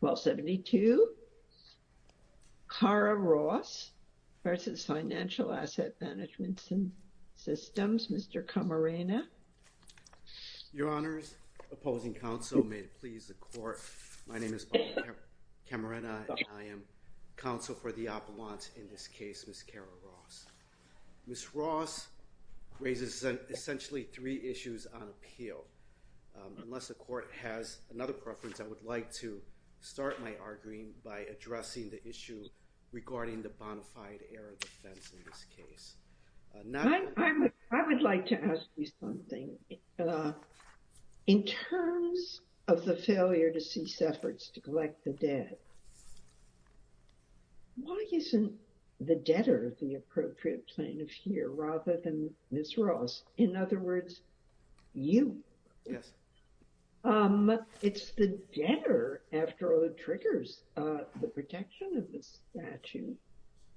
1272. Kara Ross v. Financial Asset Management Systems. Mr. Camarena. Your honors, opposing counsel, may it please the court. My name is Paul Camarena and I am counsel for the appellant in this case, Ms. Kara Ross. Ms. Ross raises essentially three issues on appeal. Unless the court has another preference, I would like to start my arguing by addressing the issue regarding the bonafide error defense in this case. I would like to ask you something. In terms of the failure to cease efforts to collect the debt, why isn't the debtor the appropriate plaintiff here rather than Ms. Ross? In other words, you. Yes. It's the debtor, after all, that triggers the protection of the statute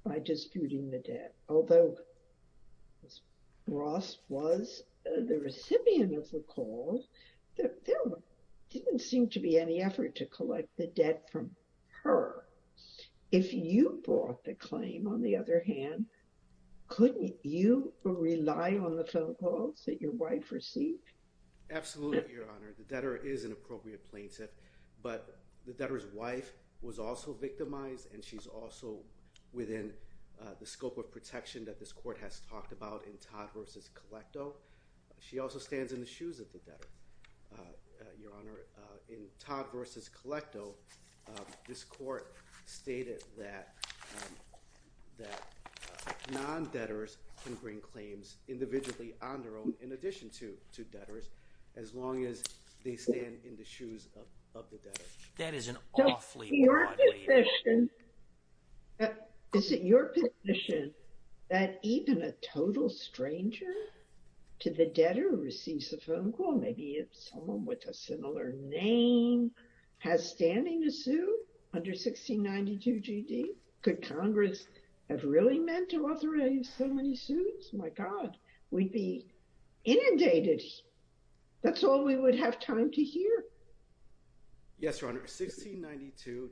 by disputing the debt. Although Ms. Ross was the recipient of the call, there didn't seem to be any effort to collect the debt from her. If you brought the claim, on the other hand, couldn't you rely on the phone calls that your wife received? Absolutely, Your Honor. The debtor is an appropriate plaintiff, but the debtor's wife was also victimized and she's also within the scope of protection that this court has talked about in Todd v. Colecto. She also stands in the shoes of the debtor, Your Honor. In Todd v. Colecto, this court stated that non-debtors can bring claims individually on their own, in addition to debtors, as long as they stand in the shoes of the debtor. That is an awfully broad way. Is it your position that even a total stranger to the debtor receives a phone call, maybe someone with a similar name, has standing to sue under 1692 G.D.? Could Congress have really meant to authorize so many sues? My God, we'd be inundated. That's all we would have time to hear. Yes, Your Honor. 1692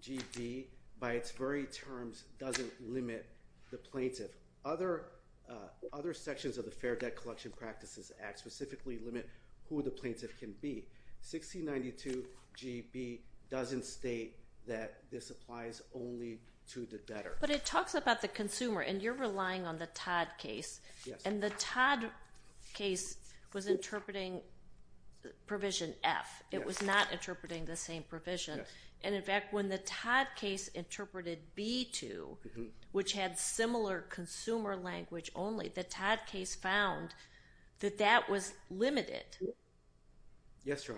G.D., by its very terms, doesn't limit the plaintiff. Other sections of the Fair Debt Collection Practices Act specifically limit who the plaintiff can be. 1692 G.D. doesn't state that this applies only to the debtor. But it talks about the consumer, and you're relying on the Todd case. And the Todd case was interpreting provision F. It was not interpreting the same provision. And in fact, when the Todd case interpreted B-2, which had similar language only, the Todd case found that that was limited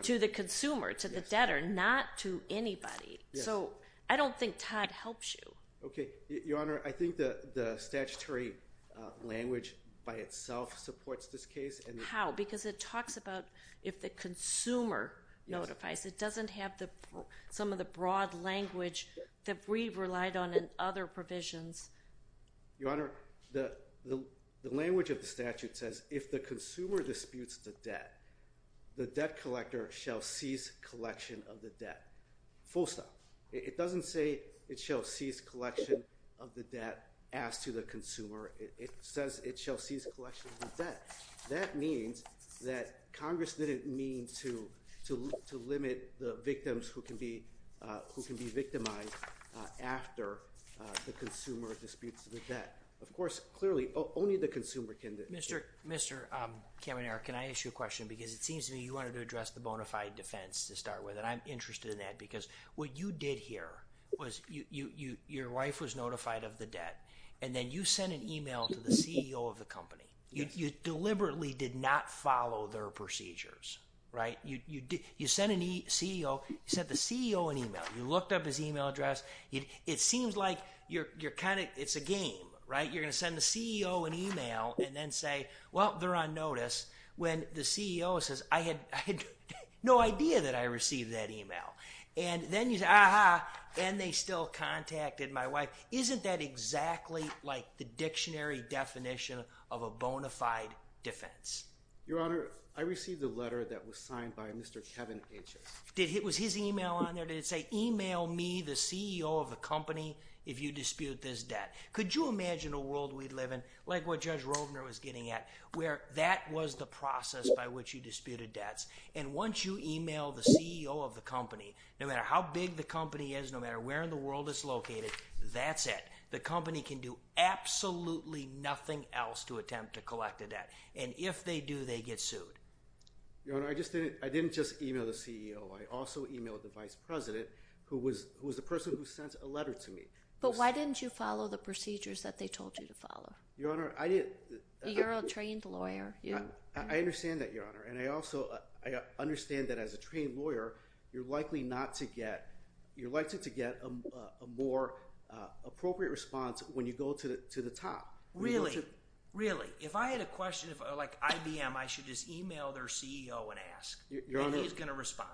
to the consumer, to the debtor, not to anybody. So I don't think Todd helps you. Okay. Your Honor, I think the statutory language by itself supports this case. How? Because it talks about if the consumer notifies. It doesn't have some of the broad language that we've relied on in other provisions. Your Honor, the language of the statute says if the consumer disputes the debt, the debt collector shall cease collection of the debt. Full stop. It doesn't say it shall cease collection of the debt as to the consumer. It says it shall cease collection of the debt. That means that Congress didn't mean to limit the victims who can be victimized after the consumer disputes the debt. Of course, clearly, only the consumer can do it. Mr. Kamenar, can I ask you a question? Because it seems to me you wanted to address the bona fide defense to start with. And I'm interested in that. Because what you did here was your wife was notified of the debt, and then you sent an email to the CEO of the company. You deliberately did not follow their procedures, right? You sent the CEO an email. You looked up his email address, it seems like you're kind of, it's a game, right? You're going to send the CEO an email and then say, well, they're on notice. When the CEO says, I had no idea that I received that email. And then you say, aha, and they still contacted my wife. Isn't that exactly like the dictionary definition of a bona fide defense? Your Honor, I received a letter that was signed by Mr. Kevin H. Did he, was his email on there? Did it say, email me, the CEO of the company, if you dispute this debt. Could you imagine a world we'd live in, like what Judge Rovner was getting at, where that was the process by which you disputed debts. And once you email the CEO of the company, no matter how big the company is, no matter where in the world it's located, that's it. The company can do absolutely nothing else to attempt to collect a debt. And if they do, they get sued. Your Honor, I just didn't, I didn't just email the CEO. I also emailed the vice president who was, who was the person who sent a letter to me. But why didn't you follow the procedures that they told you to follow? Your Honor, I didn't. You're a trained lawyer. I understand that, Your Honor. And I also, I understand that as a trained lawyer, you're likely not to get, you're likely to get a more appropriate response when you go to the top. Really, really. If I had a question, like IBM, I should just email their CEO and ask. Your Honor. And he's going to respond.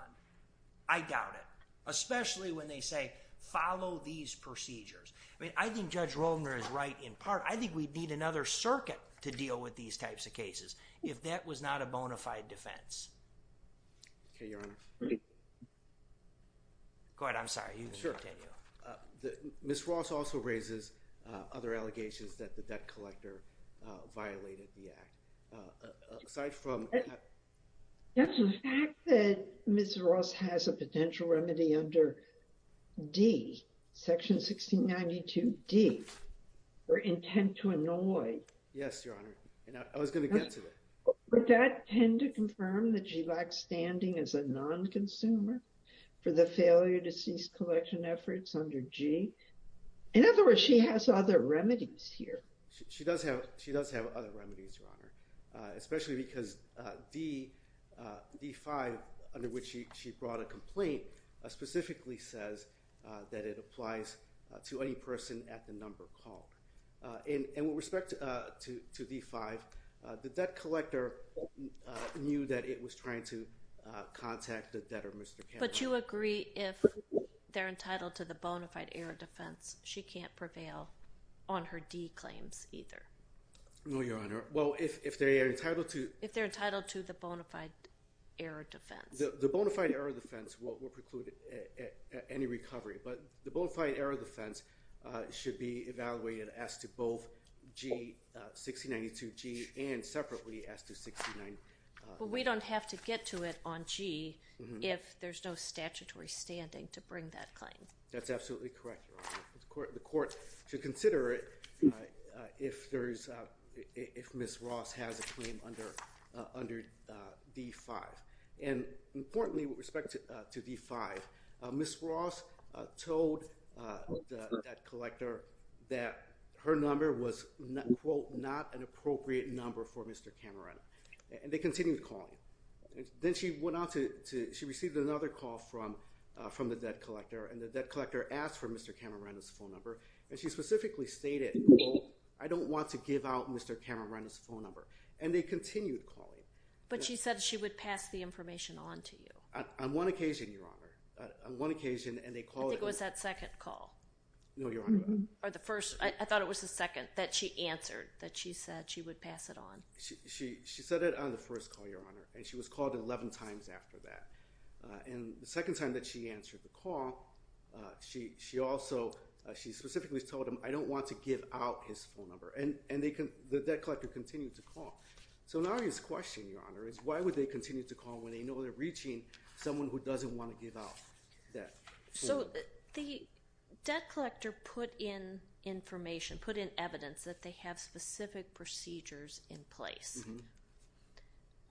I doubt it. Especially when they say, follow these procedures. I mean, I think Judge Rovner is right in part. I think we'd need another circuit to deal with these types of cases if that was not a bona fide defense. Okay, Your Honor. Go ahead. I'm sorry. You can continue. Sure. Ms. Ross also raises other allegations that the violated the act. Aside from... Yes, the fact that Ms. Ross has a potential remedy under D, Section 1692D, her intent to annoy... Yes, Your Honor. And I was going to get to it. Would that tend to confirm that she lacks standing as a non-consumer for the failure to cease collection efforts under G? In other words, she has other remedies here. She does have other remedies, Your Honor, especially because D, D-5, under which she brought a complaint, specifically says that it applies to any person at the number called. And with respect to D-5, the debt collector knew that it was trying to contact the debtor, Mr. Cameron. But you agree if they're entitled to the bona fide error defense, she can't prevail on her D claims either. No, Your Honor. Well, if they are entitled to... If they're entitled to the bona fide error defense. The bona fide error defense will preclude any recovery. But the bona fide error defense should be evaluated as to both G, 1692G, and separately as to 1692D. But we don't have to get to it on G if there's no statutory standing to bring that claim. That's absolutely correct, Your Honor. The court should consider it if there's... If Ms. Ross has a claim under D-5. And importantly, with respect to D-5, Ms. Ross told the debt collector that her number was, quote, not an appropriate number for Mr. Cameron. And they continued calling. Then she went on to... She received another call from the debt collector. And the debt collector asked for Mr. Cameron's phone number. And she specifically stated, quote, I don't want to give out Mr. Cameron's phone number. And they continued calling. But she said she would pass the information on to you. On one occasion, Your Honor. On one occasion, and they called... I think it was that second call. No, Your Honor. Or the first. I thought it was the second that she answered that she said she would pass it on. She said it on the first call, Your Honor. And she was called 11 times after that. And the second time that she answered the call, she also... She specifically told him, I don't want to give out his phone number. And the debt collector continued to call. So now his question, Your Honor, is why would they continue to call when they know they're reaching someone who doesn't want to give out that phone number? So the debt collector put in information, put in evidence that they have specific procedures in place.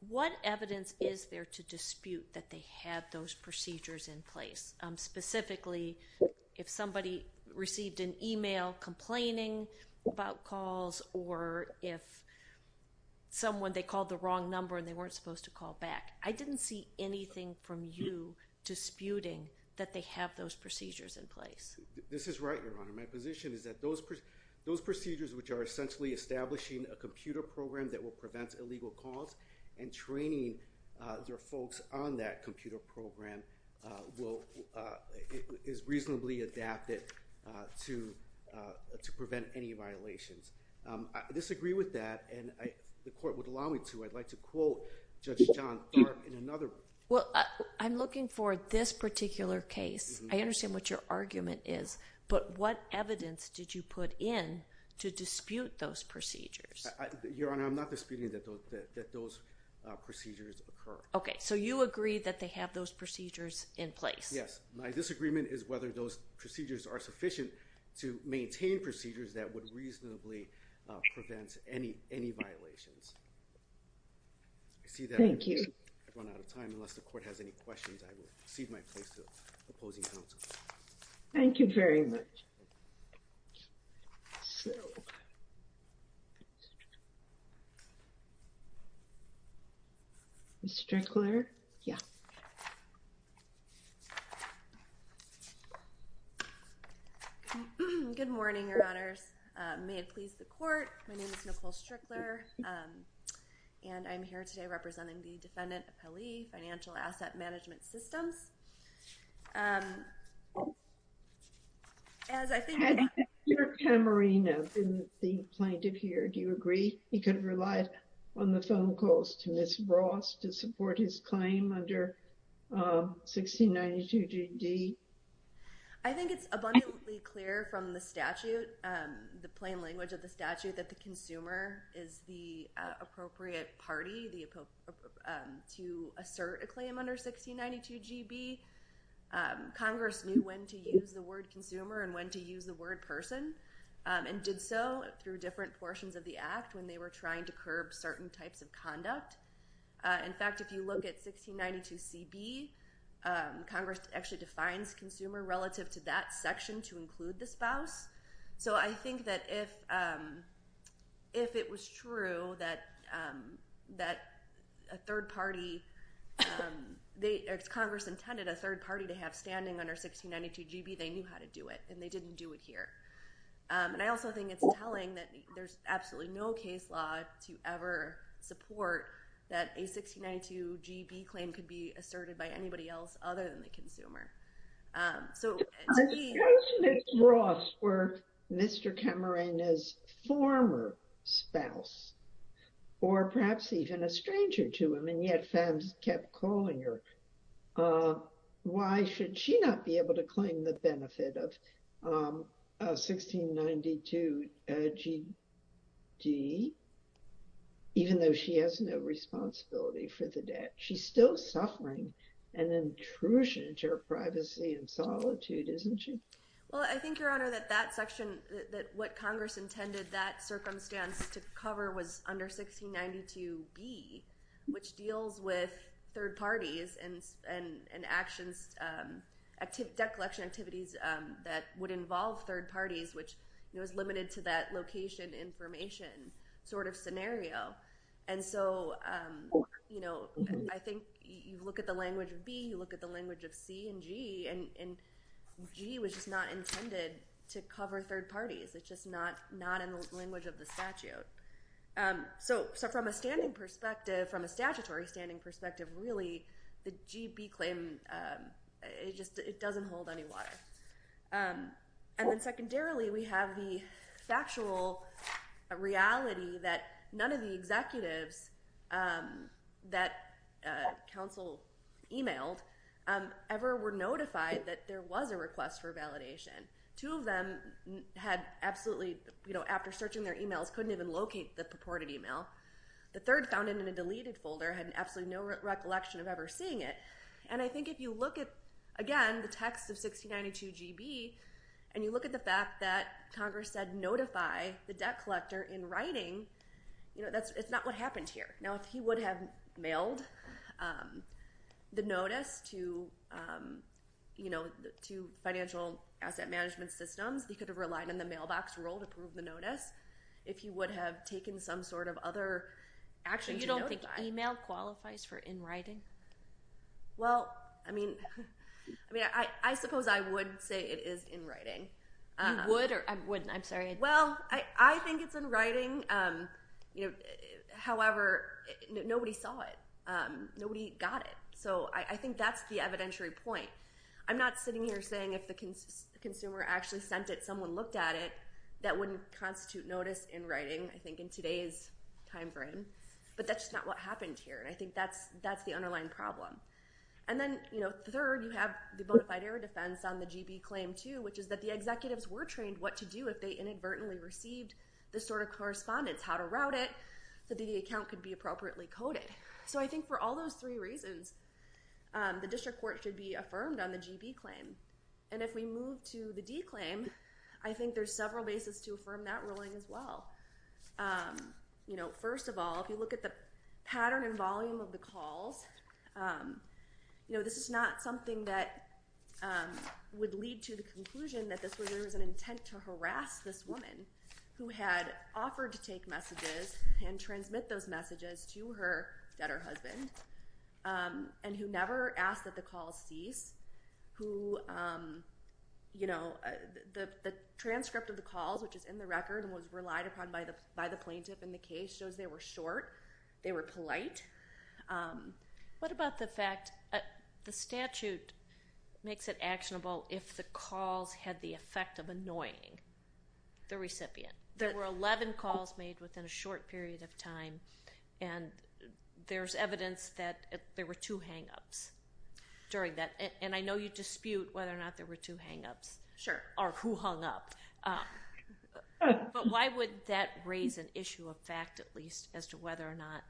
What evidence is there to dispute that they have those procedures in place? Specifically, if somebody received an email complaining about calls or if someone, they called the wrong number and they weren't supposed to call back. I didn't see anything from you disputing that they have those procedures in place. This is right, Your Honor. My position is that those procedures which are essentially establishing a computer program that will prevent illegal calls and training their folks on that computer program is reasonably adapted to prevent any violations. I disagree with that. And the court would allow me to. I'd like to quote Judge John Tharp in another... Well, I'm looking for this particular case. I understand what your argument is. But what Your Honor, I'm not disputing that those procedures occur. Okay. So you agree that they have those procedures in place? Yes. My disagreement is whether those procedures are sufficient to maintain procedures that would reasonably prevent any violations. I see that I've run out of time. Unless the court has any questions, I will cede my place to opposing counsel. Thank you very much. Ms. Strickler? Yeah. Good morning, Your Honors. May it please the court. My name is Nicole Strickler. And I'm here today representing the Defendant Appellee Financial Asset Management Systems. Hadn't your Tamarino been the plaintiff here, do you agree he could have relied on the phone calls to Ms. Ross to support his claim under 1692 G.D.? I think it's abundantly clear from the statute, the plain language of the statute, that the consumer is the appropriate party to assert a claim under 1692 G.B. Congress knew when to use the word consumer and when to use the word person, and did so through different portions of the Act when they were trying to curb certain types of conduct. In fact, if you look at 1692 C.B., Congress actually consumer relative to that section to include the spouse. So I think that if it was true that a third party, if Congress intended a third party to have standing under 1692 G.B., they knew how to do it, and they didn't do it here. And I also think it's telling that there's absolutely no case law to ever support that a 1692 G.B. claim could be asserted by anybody else other than the consumer. So, to me... If Ms. Ross were Mr. Camarena's former spouse, or perhaps even a stranger to him, and yet Favs kept calling her, why should she not be able to claim the benefit of 1692 G.D., an intrusion into her privacy and solitude, isn't she? Well, I think, Your Honor, that what Congress intended that circumstance to cover was under 1692 B, which deals with third parties and debt collection activities that would involve third parties, which was limited to that location information sort of scenario. And so, I think you look at the language of B, you look at the language of C and G, and G was just not intended to cover third parties. It's just not in the language of the statute. So, from a standing perspective, from a statutory standing perspective, really, the G.B. claim, it doesn't hold any water. And then secondarily, we have the factual reality that none of the executives that counsel emailed ever were notified that there was a request for validation. Two of them had absolutely... After searching their emails, couldn't even locate the purported email. The third found it in a deleted folder, had absolutely no recollection of ever seeing it. And I think if you look at, again, the text of 1692 G.B., and you look at the fact that Congress said notify the debt collector in writing, it's not what happened here. Now, if he would have mailed the notice to financial asset management systems, he could have relied on the mailbox rule to prove the notice. If he would have taken some sort of other action to notify... So, you don't think email qualifies for in writing? Well, I mean, I suppose I would say it is in writing. You would or wouldn't? I'm sorry. Well, I think it's in writing. However, nobody saw it. Nobody got it. So, I think that's the evidentiary point. I'm not sitting here saying if the consumer actually sent it, someone looked at it, that wouldn't constitute notice in writing, I think, in today's time frame. But that's just not what happened here. And I think that's the underlying problem. And then third, you have the bonafide error defense on the G.B. claim, too, which is that the executives were trained what to do if they inadvertently received this sort of correspondence, how to route it, so that the account could be appropriately coded. So, I think for all those three reasons, the district court should be affirmed on the G.B. claim. And if we move to the D claim, I think there's several bases to affirm that ruling as well. First of all, if you look at the G.B. claim, it's a case that would lead to the conclusion that there was an intent to harass this woman who had offered to take messages and transmit those messages to her deader husband, and who never asked that the calls cease. The transcript of the calls, which is in the record and was relied upon by the plaintiff in the case, shows they were short. They were polite. What about the fact that the statute makes it actionable if the calls had the effect of annoying the recipient? There were 11 calls made within a short period of time, and there's evidence that there were two hang-ups during that. And I know you dispute whether or not there were two hang-ups, or who hung up. But why would that raise an issue of fact, at least, as to whether or not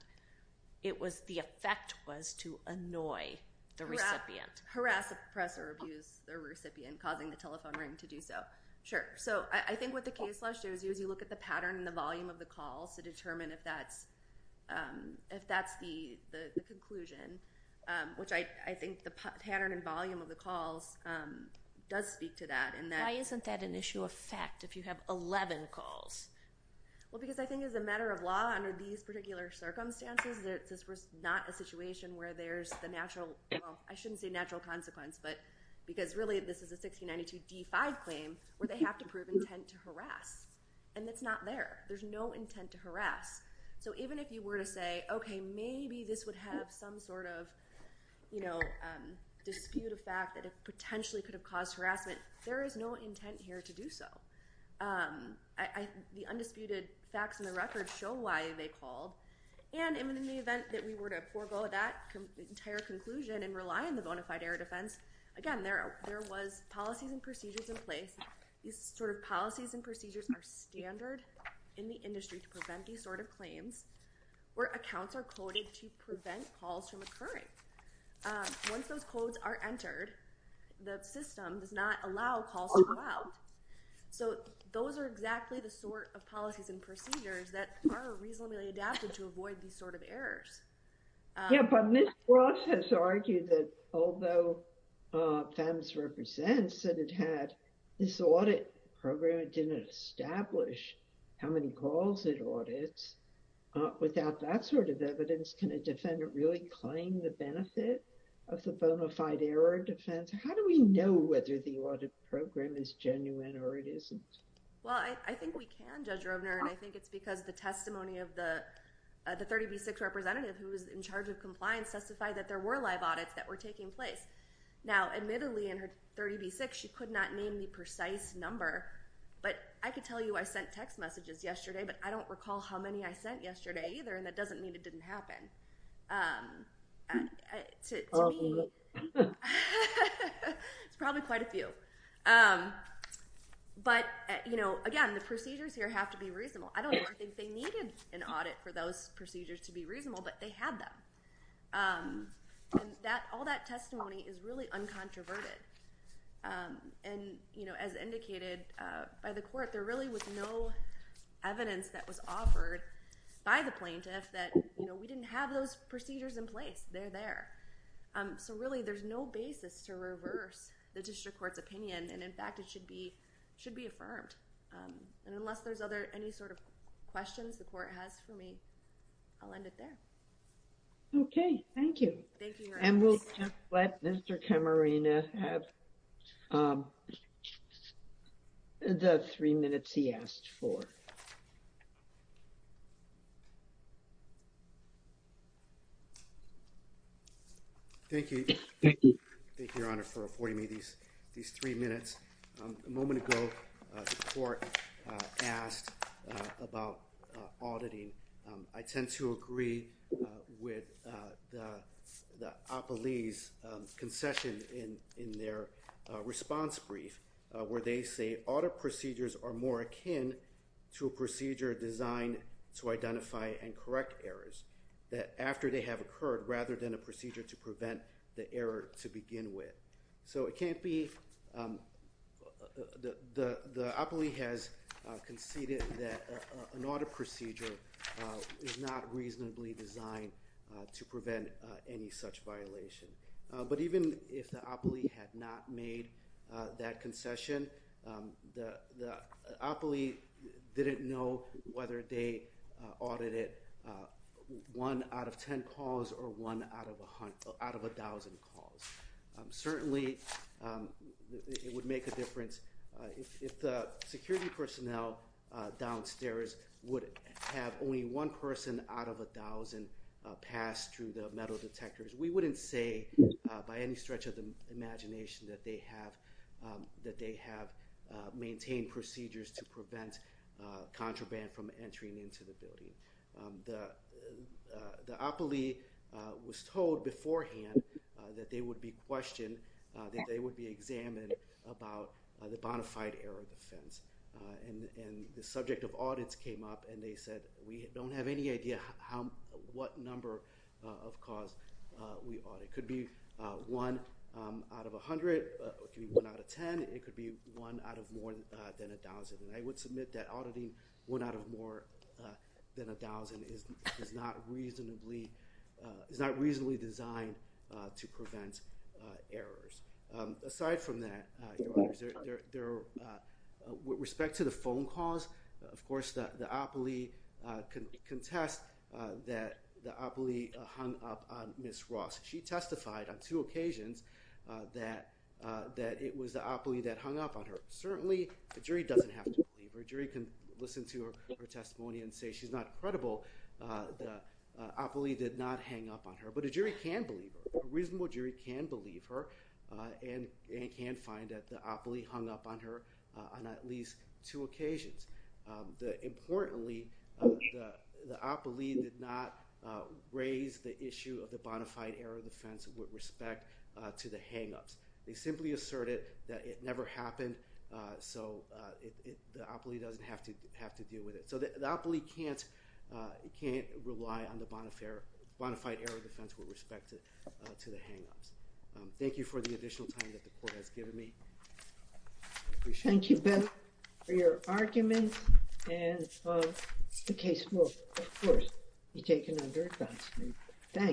the effect was to annoy the recipient? Harass, oppress, or abuse the recipient, causing the telephone ring to do so. Sure. So I think what the case law shows you is you look at the pattern and the volume of the calls to determine if that's the conclusion, which I think the pattern and volume of the calls does speak to that. Why isn't that an issue of fact if you have 11 calls? Well, because I think as a matter of law under these particular circumstances, that this was not a situation where there's the natural, well, I shouldn't say natural consequence, but because really this is a 1692 D-5 claim where they have to prove intent to harass. And it's not there. There's no intent to harass. So even if you were to say, okay, maybe this would have some sort of dispute of fact that it potentially could have caused harassment, there is no intent here to do so. The undisputed facts in the record show why they called. And in the event that we were to forego that entire conclusion and rely on the bonafide error defense, again, there was policies and procedures in place. These sort of policies and procedures are standard in the industry to prevent these sort of claims where accounts are coded to prevent calls from occurring. Once those codes are entered, the system does not allow calls to go out. So those are exactly the sort of policies and procedures that are reasonably adapted to avoid these sort of errors. Yeah, but Ms. Ross has argued that although FEMS represents that it had this audit program, it didn't establish how many calls it audits. Without that sort of evidence, can a defendant really claim the benefit of the bonafide error defense? How do we know whether the audit program is genuine or it isn't? Well, I think we can, Judge Rovner, and I think it's because the testimony of the 30B6 representative who was in charge of compliance testified that there were live audits that were taking place. Now, admittedly, in her 30B6, she could not name the precise number, but I could tell you I sent text messages yesterday, but I don't recall how many I sent yesterday either, and that doesn't mean it didn't happen. It's probably quite a few. But, you know, again, the procedures here have to be reasonable. I don't think they needed an audit for those procedures to be reasonable, but they had them. And all that testimony is really uncontroverted. And, you know, as indicated by the court, there really was no evidence that was offered by the plaintiff that, you know, we didn't have those procedures in place. They're there. So really, there's no basis to reverse the district court's opinion, and in fact, it should be, should be affirmed. And unless there's other, any sort of questions the court has for me, I'll end it there. Okay. Thank you. And we'll just let Mr. Camarena have the three minutes he asked for. Thank you. Thank you, Your Honor, for affording me these three minutes. A moment ago, the court asked about auditing. I tend to agree with the Opley's concession in their response brief, where they say audit procedures are more akin to a procedure designed to identify and correct errors, that after they have occurred, rather than a procedure to prevent the error to begin with. So it can't be, the Opley has conceded that an audit procedure is not reasonably designed to prevent any such violation. But even if the Opley had not made that concession, the Opley didn't know whether they audited one out of ten calls or one out of a hundred, out of a thousand calls. Certainly it would make a difference if the security personnel downstairs would have only one person out of a thousand pass through the metal detectors. We wouldn't say by any stretch of the imagination that they have, that they have maintained procedures to prevent contraband from entering into the building. The Opley was told before that they would be questioned, that they would be examined about the bona fide error defense. And the subject of audits came up and they said, we don't have any idea what number of calls we audit. It could be one out of a hundred, it could be one out of ten, it could be one out of more than a thousand. And I would submit that auditing one out of more than a thousand is not reasonably, is not reasonably designed to prevent errors. Aside from that, Your Honors, with respect to the phone calls, of course the Opley can contest that the Opley hung up on Ms. Ross. She testified on two occasions that it was the Opley that hung up on her. Certainly the jury doesn't have to believe her. The jury can listen to her testimony and say she's not credible. The Opley did not hang up on her. But a jury can believe her. A reasonable jury can believe her and can find that the Opley hung up on her on at least two occasions. Importantly, the Opley did not raise the issue of the bona fide error defense with respect to the hangups. They simply asserted that it never happened so the Opley doesn't have to deal with it. So the jury can't rely on the bona fide error defense with respect to the hangups. Thank you for the additional time that the Court has given me. I appreciate it. Thank you, Ben, for your arguments and the case will, of course, be taken under advance.